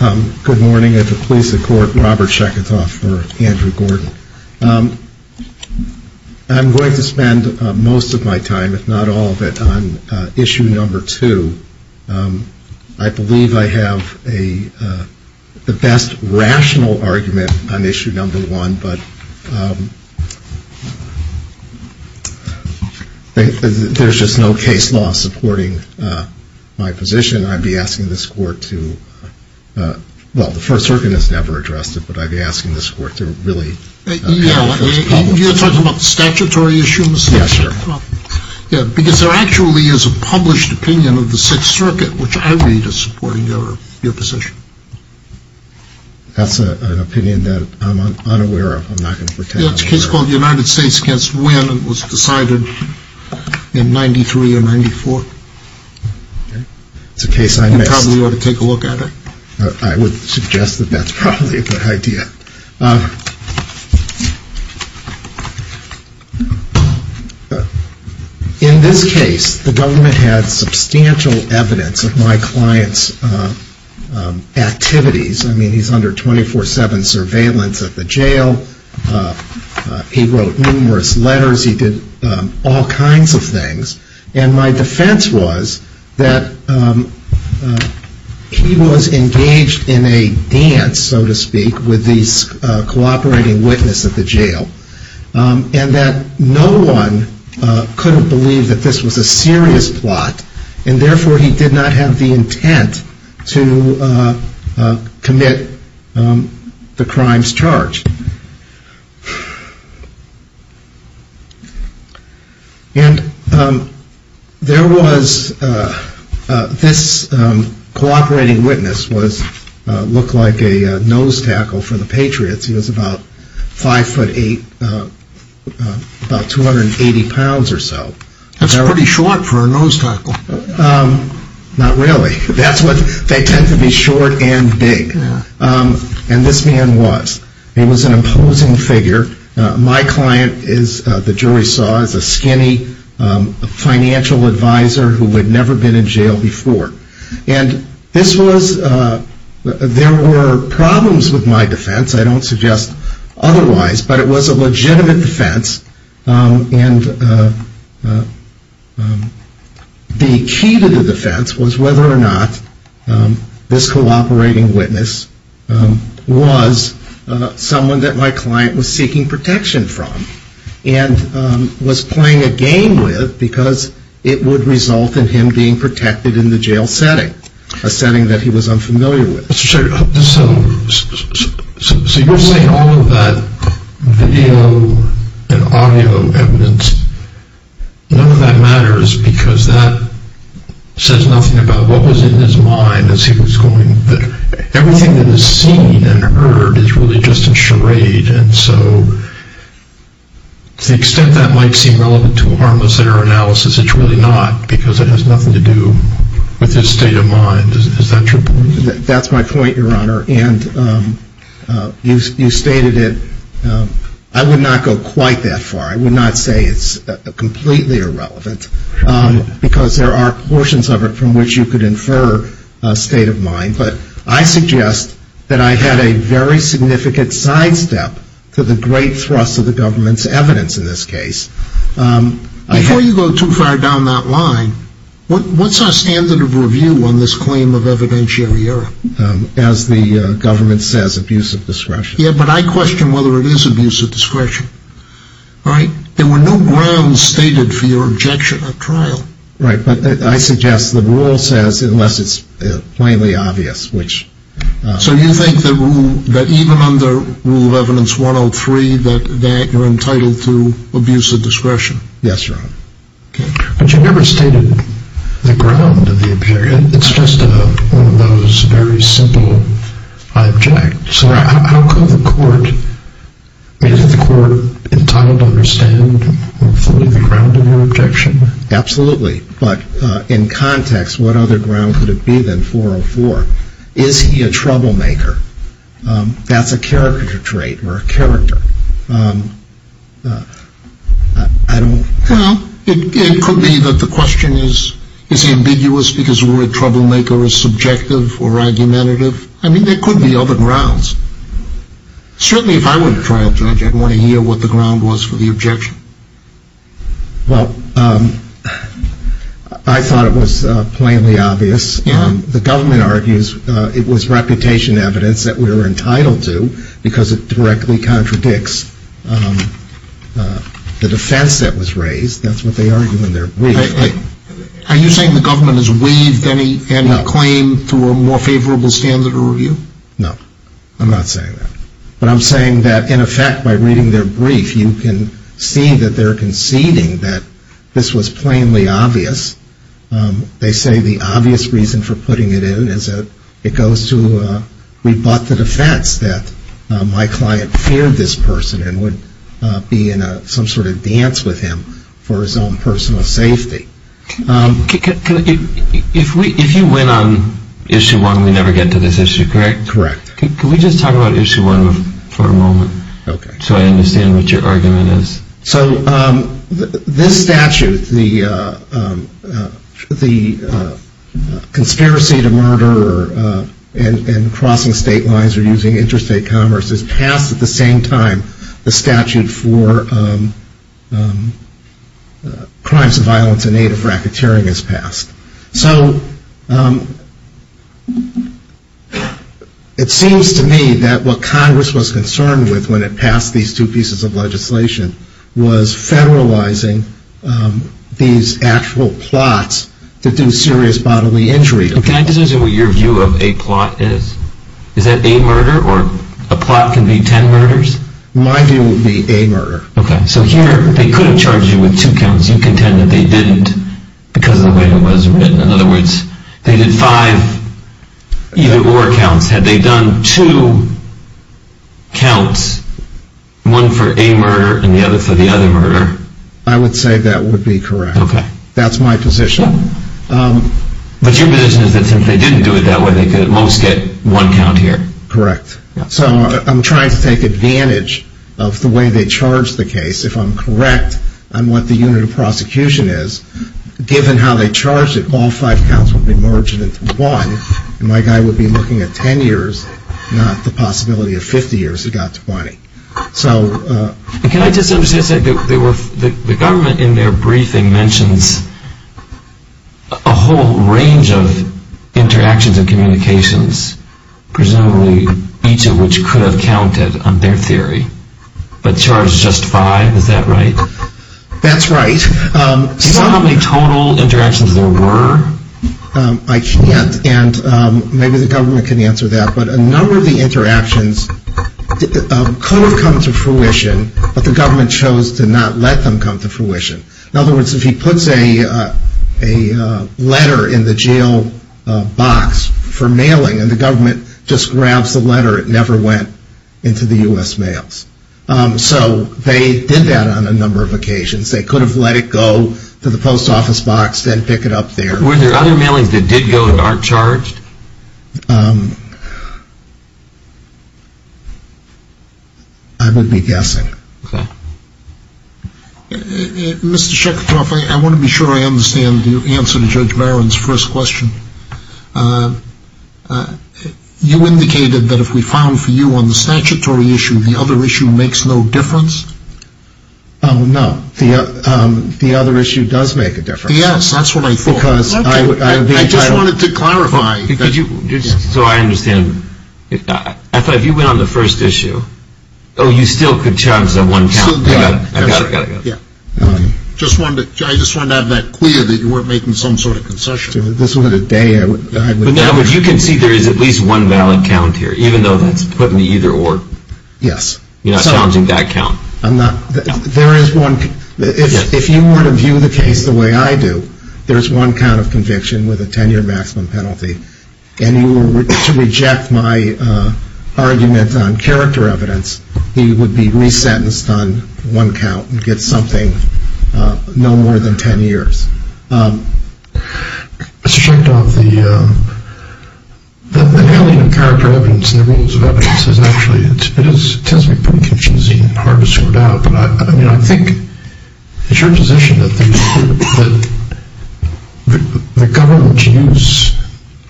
I'm going to spend most of my time, if not all of it, on issue number two. I believe I have the best rational argument on issue number one, but there's just no case law supporting my position. I'd be asking this court to, well, the First Circuit has never addressed it, but I'd be asking this court to really clarify this problem. You're talking about the statutory issue, Mr. Chairman? Yes, sir. Because there actually is a published opinion of the Sixth Circuit, which I read as supporting your position. That's an opinion that I'm unaware of. I'm not going to pretend I'm aware of it. It's a case called the United States v. Wynne, and it was decided in 1993 or 1994. It's a case I missed. You probably ought to take a look at it. I would suggest that that's probably a good idea. In this case, the government had substantial evidence of my client's activities. I mean, he's under 24-7 surveillance at the jail. He wrote numerous letters. He did all kinds of things. And my defense was that he was engaged in a dance, so to speak, with these cooperating witnesses at the jail, and that no one could have believed that this was a serious plot, and therefore, he did not have the intent to commit the crimes charged. And there was this cooperating witness who looked like a nose tackle for the Patriots. He was about 5'8", about 280 pounds or so. That's pretty short for a nose tackle. Not really. They tend to be short and big. And this man was. He was an imposing figure. My client, the jury saw, is a skinny financial advisor who had never been in jail before. And this was, there were problems with my defense. I don't suggest otherwise, but it was a legitimate defense. And the key to the defense was whether or not this cooperating witness was someone that my client was seeking protection from and was playing a game with because it would result in him being protected in the jail setting, a setting that he was unfamiliar with. So you're saying all of that video and audio evidence, none of that matters because that says nothing about what was in his mind as he was going. Everything that is seen and heard is really just a charade, and so to the extent that might seem relevant to a harmless center analysis, it's really not because it has nothing to do with his state of mind. Is that true? That's my point, Your Honor. And you stated it. I would not go quite that far. I would not say it's completely irrelevant because there are portions of it from which you could infer a state of mind. But I suggest that I had a very significant sidestep to the great thrust of the government's evidence in this case. Before you go too far down that line, what's our standard of review on this claim of evidentiary error? As the government says, abuse of discretion. Yeah, but I question whether it is abuse of discretion. There were no grounds stated for your objection at trial. Right, but I suggest the rule says, unless it's plainly obvious, which... So you think that even under Rule of Evidence 103, that you're entitled to abuse of discretion? Yes, Your Honor. Okay. But you never stated the ground of the objection. It's just one of those very simple, I object. So how could the court, is the court entitled to understand fully the ground of your objection? Absolutely. But in context, what other ground could it be than 404? Is he a troublemaker? That's a character trait. We're a character. I don't... Well, it could be that the question is, is he ambiguous because the word troublemaker is subjective or argumentative? I mean, there could be other grounds. Certainly if I were a trial judge, I'd want to hear what the ground was for the objection. Well, I thought it was plainly obvious. The government argues it was reputation evidence that we were entitled to because it directly contradicts the defense that was raised. That's what they argue in their brief. Are you saying the government has weaved any claim through a more favorable standard of review? No. I'm not saying that. But I'm saying that, in effect, by reading their brief, you can see that they're conceding that this was plainly obvious. They say the obvious reason for putting it in is that it goes to rebut the defense that my client feared this person and would be in some sort of dance with him for his own personal safety. If you went on Issue 1, we never get to this issue, correct? Correct. Can we just talk about Issue 1 for a moment so I understand what your argument is? So this statute, the conspiracy to murder and crossing state lines or using interstate commerce is passed at the same time the statute for crimes of violence in aid of racketeering is passed. So it seems to me that what Congress was concerned with when it passed these two pieces of legislation was federalizing these actual plots to do serious bodily injury. Can I just ask you what your view of a plot is? Is that a murder or a plot can be ten murders? My view would be a murder. Okay. So here they could have charged you with two counts. You contend that they didn't because of the way it was written. In other words, they did five either-or counts. Had they done two counts, one for a murder and the other for the other murder? I would say that would be correct. Okay. That's my position. But your position is that since they didn't do it that way, they could at most get one count here. Correct. So I'm trying to take advantage of the way they charged the case. If I'm correct on what the unit of prosecution is, given how they charged it, all five counts would be merged into one and my guy would be looking at ten years, not the possibility of 50 years who got to 20. Can I just say that the government in their briefing mentions a whole range of interactions and communications, presumably each of which could have counted on their theory, but charged just five. Is that right? That's right. Do you know how many total interactions there were? I can't, and maybe the government can answer that. But a number of the interactions could have come to fruition, but the government chose to not let them come to fruition. In other words, if he puts a letter in the jail box for mailing and the government just grabs the letter, it never went into the U.S. mails. So they did that on a number of occasions. They could have let it go to the post office box, then pick it up there. Were there other mailings that did go and aren't charged? I would be guessing. Okay. Mr. Shekhartoff, I want to be sure I understand your answer to Judge Barron's first question. You indicated that if we filed for you on the statutory issue, the other issue makes no difference? No, the other issue does make a difference. Yes, that's what I thought. I just wanted to clarify. So I understand. I thought if you went on the first issue, oh, you still could charge them one count. I got it, I got it, I got it. I just wanted to have that clear that you weren't making some sort of concession. At this point of the day, I wouldn't. But in other words, you can see there is at least one valid count here, even though that's put in the either or. Yes. You're not challenging that count? I'm not. There is one. If you were to view the case the way I do, there is one count of conviction with a 10-year maximum penalty. And you were to reject my argument on character evidence, you would be resentenced on one count and get something no more than 10 years. Mr. Chekhov, the value of character evidence and the rules of evidence is actually, it tends to be pretty confusing and hard to sort out, but I think it's your position that the government's use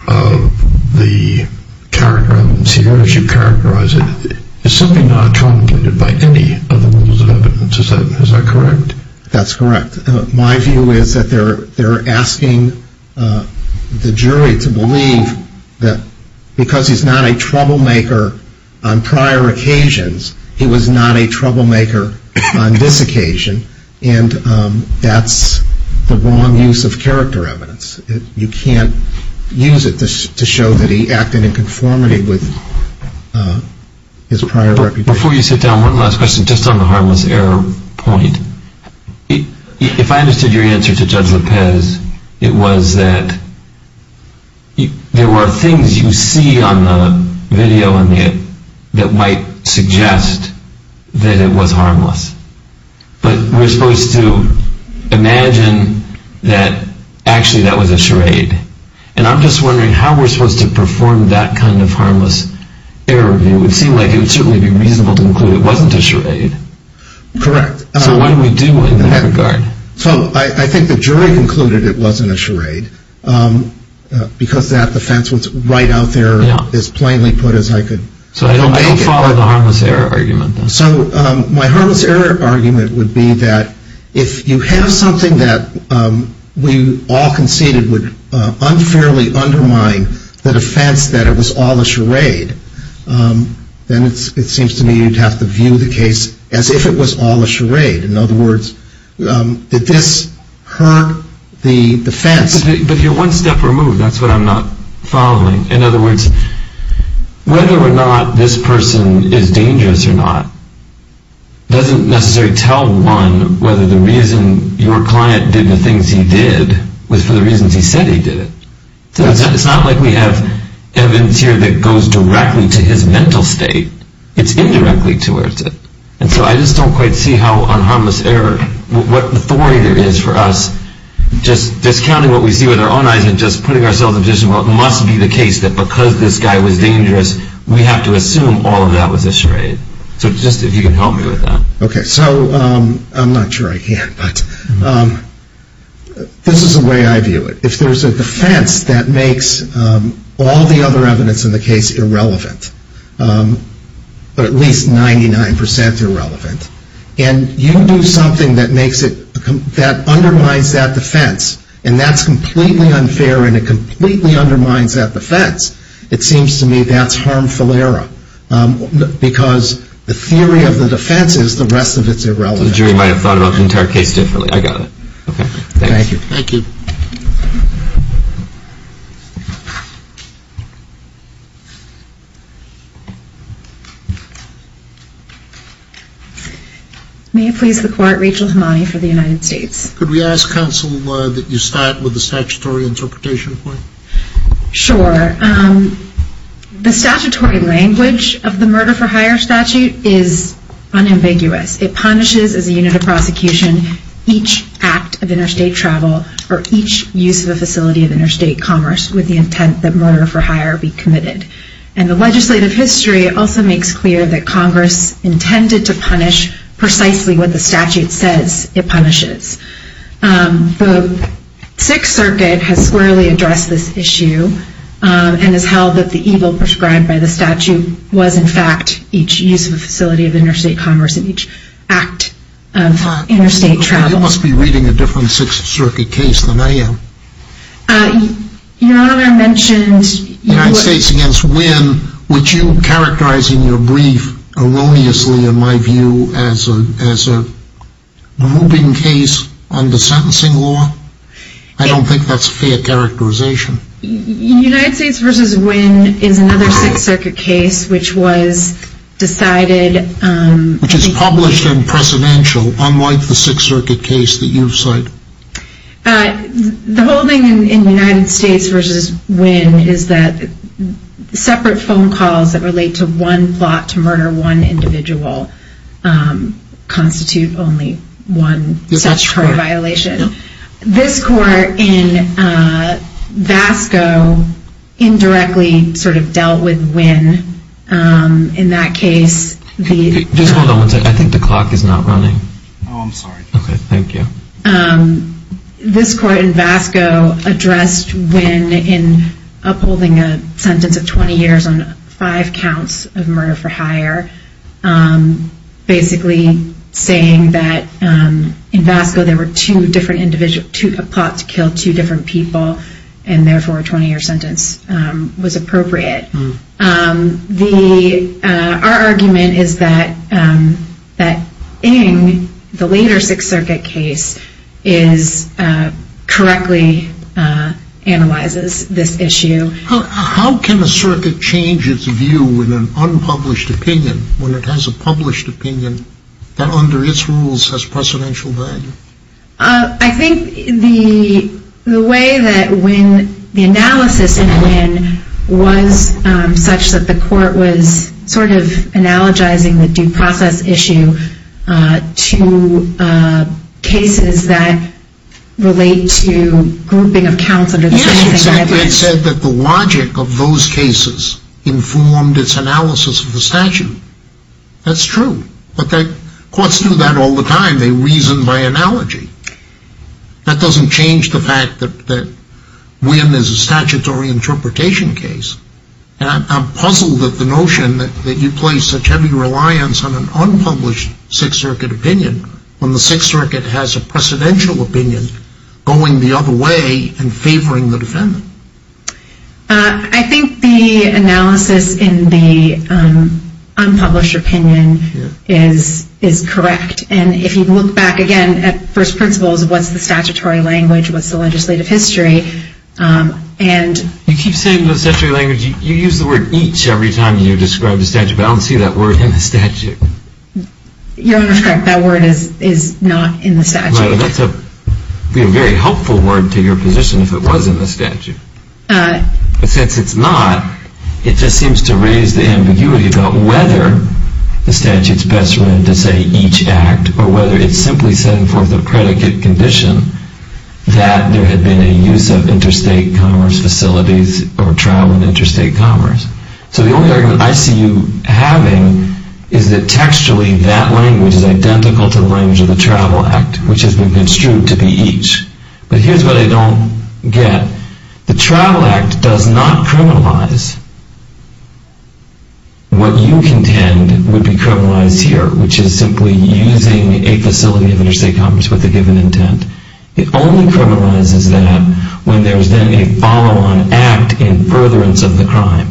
of the character evidence here, as you characterize it, is simply not truncated by any of the rules of evidence. Is that correct? That's correct. My view is that they're asking the jury to believe that because he's not a troublemaker on prior occasions, he was not a troublemaker on this occasion, and that's the wrong use of character evidence. You can't use it to show that he acted in conformity with his prior reputation. Before you sit down, one last question just on the harmless error point. If I understood your answer to Judge Lopez, it was that there were things you see on the video that might suggest that it was harmless. But we're supposed to imagine that actually that was a charade. And I'm just wondering how we're supposed to perform that kind of harmless error. It would seem like it would certainly be reasonable to conclude it wasn't a charade. Correct. So what do we do in that regard? So I think the jury concluded it wasn't a charade because that defense was right out there as plainly put as I could make it. So I don't follow the harmless error argument. So my harmless error argument would be that if you have something that we all conceded would unfairly undermine the defense that it was all a charade, then it seems to me you'd have to view the case as if it was all a charade. In other words, did this hurt the defense? But you're one step removed. That's what I'm not following. In other words, whether or not this person is dangerous or not doesn't necessarily tell one whether the reason your client did the things he did was for the reasons he said he did it. It's not like we have evidence here that goes directly to his mental state. It's indirectly towards it. And so I just don't quite see how on harmless error, what authority there is for us, just discounting what we see with our own eyes and just putting ourselves in a position where it must be the case that because this guy was dangerous, we have to assume all of that was a charade. So just if you can help me with that. Okay. So I'm not sure I can, but this is the way I view it. If there's a defense that makes all the other evidence in the case irrelevant, but at least 99% irrelevant, and you do something that undermines that defense and that's completely unfair and it completely undermines that defense, it seems to me that's harmful error because the theory of the defense is the rest of it's irrelevant. The jury might have thought about the entire case differently. I got it. Okay. Thank you. Thank you. May it please the court, Rachel Hemani for the United States. Could we ask counsel that you start with the statutory interpretation point? Sure. The statutory language of the murder for hire statute is unambiguous. It punishes as a unit of prosecution each act of interstate travel or each use of a facility of interstate commerce with the intent that murder for hire be committed. And the legislative history also makes clear that Congress intended to punish precisely what the statute says it punishes. The Sixth Circuit has squarely addressed this issue and has held that the evil prescribed by the statute was, in fact, each use of a facility of interstate commerce and each act of interstate travel. You must be reading a different Sixth Circuit case than I am. You know, I mentioned United States against Wynn, which you characterize in your brief erroneously, in my view, as a moving case under sentencing law. I don't think that's a fair characterization. United States versus Wynn is another Sixth Circuit case which was decided... Which is published in Presidential, unlike the Sixth Circuit case that you've cited. The whole thing in United States versus Wynn is that separate phone calls that relate to one plot to murder one individual constitute only one statutory violation. This court in Vasco indirectly sort of dealt with Wynn. In that case... Just hold on one second. I think the clock is not running. Oh, I'm sorry. Okay, thank you. This court in Vasco addressed Wynn in upholding a sentence of 20 years on five counts of murder for hire. Basically saying that in Vasco there were two different plots to kill two different people and therefore a 20 year sentence was appropriate. Our argument is that Ng, the later Sixth Circuit case, correctly analyzes this issue. How can a circuit change its view in an unpublished opinion when it has a published opinion that under its rules has precedential value? I think the way that Wynn, the analysis in Wynn was such that the court was sort of analogizing the due process issue to cases that relate to grouping of counts... It said that the logic of those cases informed its analysis of the statute. That's true. Courts do that all the time. They reason by analogy. That doesn't change the fact that Wynn is a statutory interpretation case. I'm puzzled at the notion that you place such heavy reliance on an unpublished Sixth Circuit opinion when the Sixth Circuit has a precedential opinion going the other way and favoring the defendant. I think the analysis in the unpublished opinion is correct. And if you look back again at first principles, what's the statutory language, what's the legislative history? You keep saying the statutory language. You use the word each every time you describe the statute. But I don't see that word in the statute. Your Honor is correct. That word is not in the statute. That would be a very helpful word to your position if it was in the statute. But since it's not, it just seems to raise the ambiguity about whether the statute is best run to say each act or whether it's simply setting forth a predicate condition that there had been a use of interstate commerce facilities or trial in interstate commerce. So the only argument I see you having is that textually that language is identical to the language of the Travel Act, which has been construed to be each. But here's what I don't get. The Travel Act does not criminalize what you contend would be criminalized here, which is simply using a facility of interstate commerce with a given intent. It only criminalizes that when there's then a follow-on act in furtherance of the crime.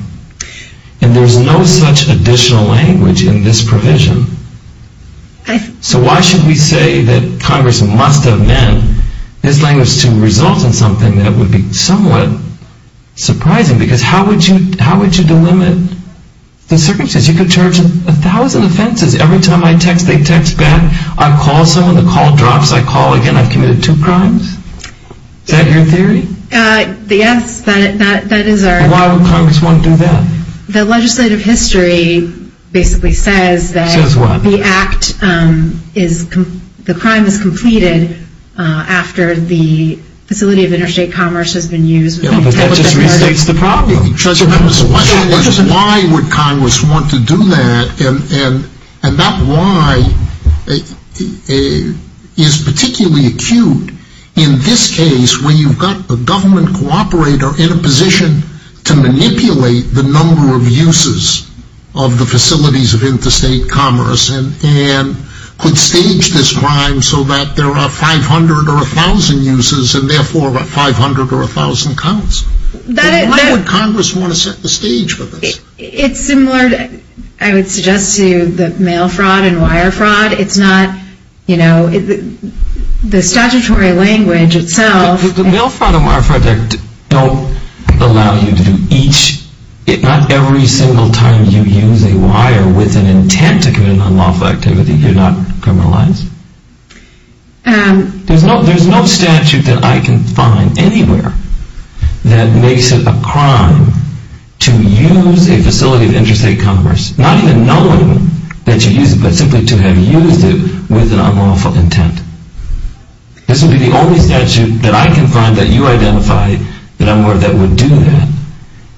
And there's no such additional language in this provision. So why should we say that Congress must have meant this language to result in something that would be somewhat surprising? Because how would you delimit the circumstances? You could charge a thousand offenses. Every time I text, they text back. I call someone. The call drops. I call again. I've committed two crimes. Is that your theory? Yes, that is our theory. Why would Congress want to do that? The legislative history basically says that the act is the crime is completed after the facility of interstate commerce has been used. But that just restates the problem. Why would Congress want to do that? And that why is particularly acute in this case where you've got a government cooperator in a position to manipulate the number of uses of the facilities of interstate commerce and could stage this crime so that there are 500 or 1,000 uses and, therefore, 500 or 1,000 counts. Why would Congress want to set the stage for this? It's similar, I would suggest, to the mail fraud and wire fraud. It's not, you know, the statutory language itself. The mail fraud and wire fraud don't allow you to do each, not every single time you use a wire with an intent to commit an unlawful activity, you're not criminalized. There's no statute that I can find anywhere that makes it a crime to use a facility of interstate commerce, not even knowing that you use it, but simply to have used it with an unlawful intent. This would be the only statute that I can find that you identify that would do that.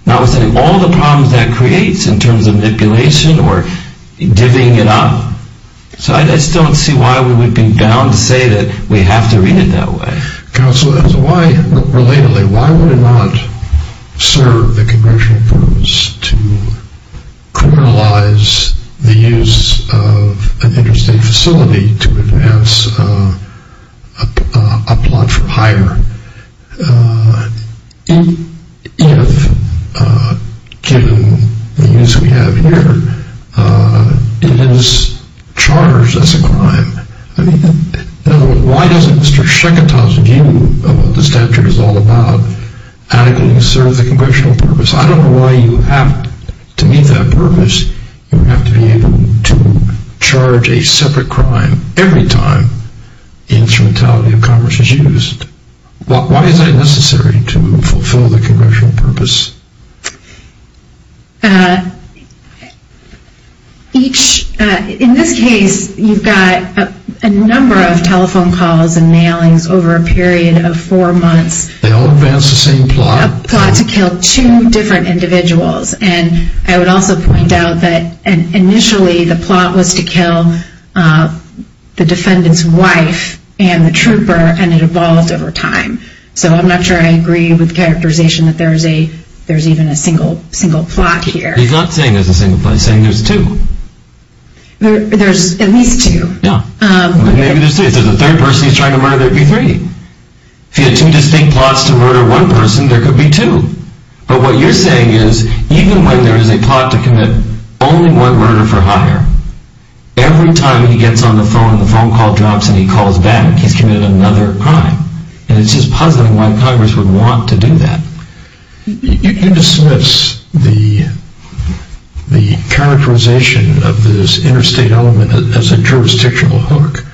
Now, with all the problems that creates in terms of manipulation or divvying it up, I just don't see why we would be bound to say that we have to read it that way. Counsel, why, relatedly, why would it not serve the congressional purpose to criminalize the use of an interstate facility to advance a plot for hire if, given the use we have here, it is charged as a crime? I mean, in other words, why doesn't Mr. Sheketau's view of what the statute is all about adequately serve the congressional purpose? I don't know why you have to meet that purpose. You have to be able to charge a separate crime every time instrumentality of commerce is used. Why is that necessary to fulfill the congressional purpose? In this case, you've got a number of telephone calls and mailings over a period of four months. They all advance the same plot. It's a plot to kill two different individuals. And I would also point out that initially the plot was to kill the defendant's wife and the trooper, and it evolved over time. So I'm not sure I agree with the characterization that there's even a single plot here. He's not saying there's a single plot. He's saying there's two. There's at least two. Maybe there's three. If there's a third person he's trying to murder, there would be three. If he had two distinct plots to murder one person, there could be two. But what you're saying is even when there is a plot to commit only one murder for hire, every time he gets on the phone and the phone call drops and he calls back, he's committed another crime. And it's just puzzling why Congress would want to do that. You dismiss the characterization of this interstate element as a jurisdictional hook.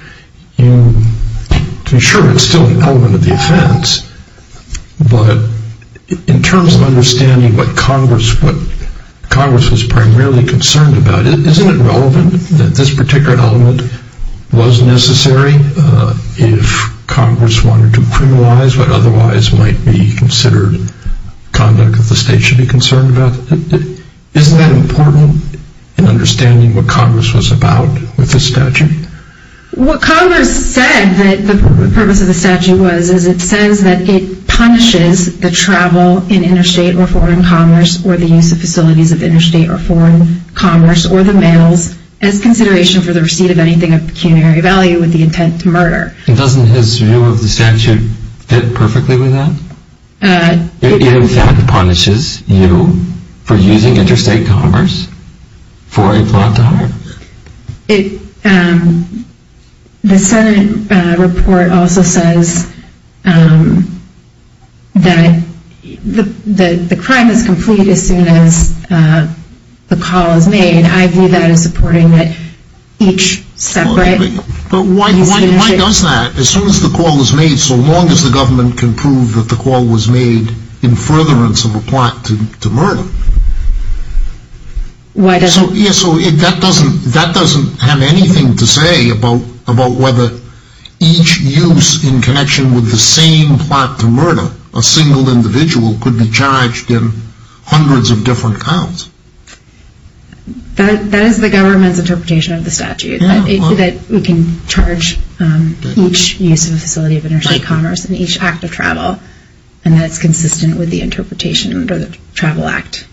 Sure, it's still an element of the offense. But in terms of understanding what Congress was primarily concerned about, isn't it relevant that this particular element was necessary if Congress wanted to criminalize what otherwise might be considered conduct that the state should be concerned about? Isn't that important in understanding what Congress was about with this statute? What Congress said that the purpose of the statute was, is it says that it punishes the travel in interstate or foreign commerce or the use of facilities of interstate or foreign commerce or the mails as consideration for the receipt of anything of pecuniary value with the intent to murder. Doesn't his view of the statute fit perfectly with that? It in fact punishes you for using interstate commerce for a plot to hire? The Senate report also says that the crime is complete as soon as the call is made. I view that as supporting that each separate... But why does that? As soon as the call is made, so long as the government can prove that the call was made in furtherance of a plot to murder. So that doesn't have anything to say about whether each use in connection with the same plot to murder, a single individual could be charged in hundreds of different counts. That is the government's interpretation of the statute. That we can charge each use of a facility of interstate commerce in each act of travel and that it's consistent with the interpretation under the Travel Act.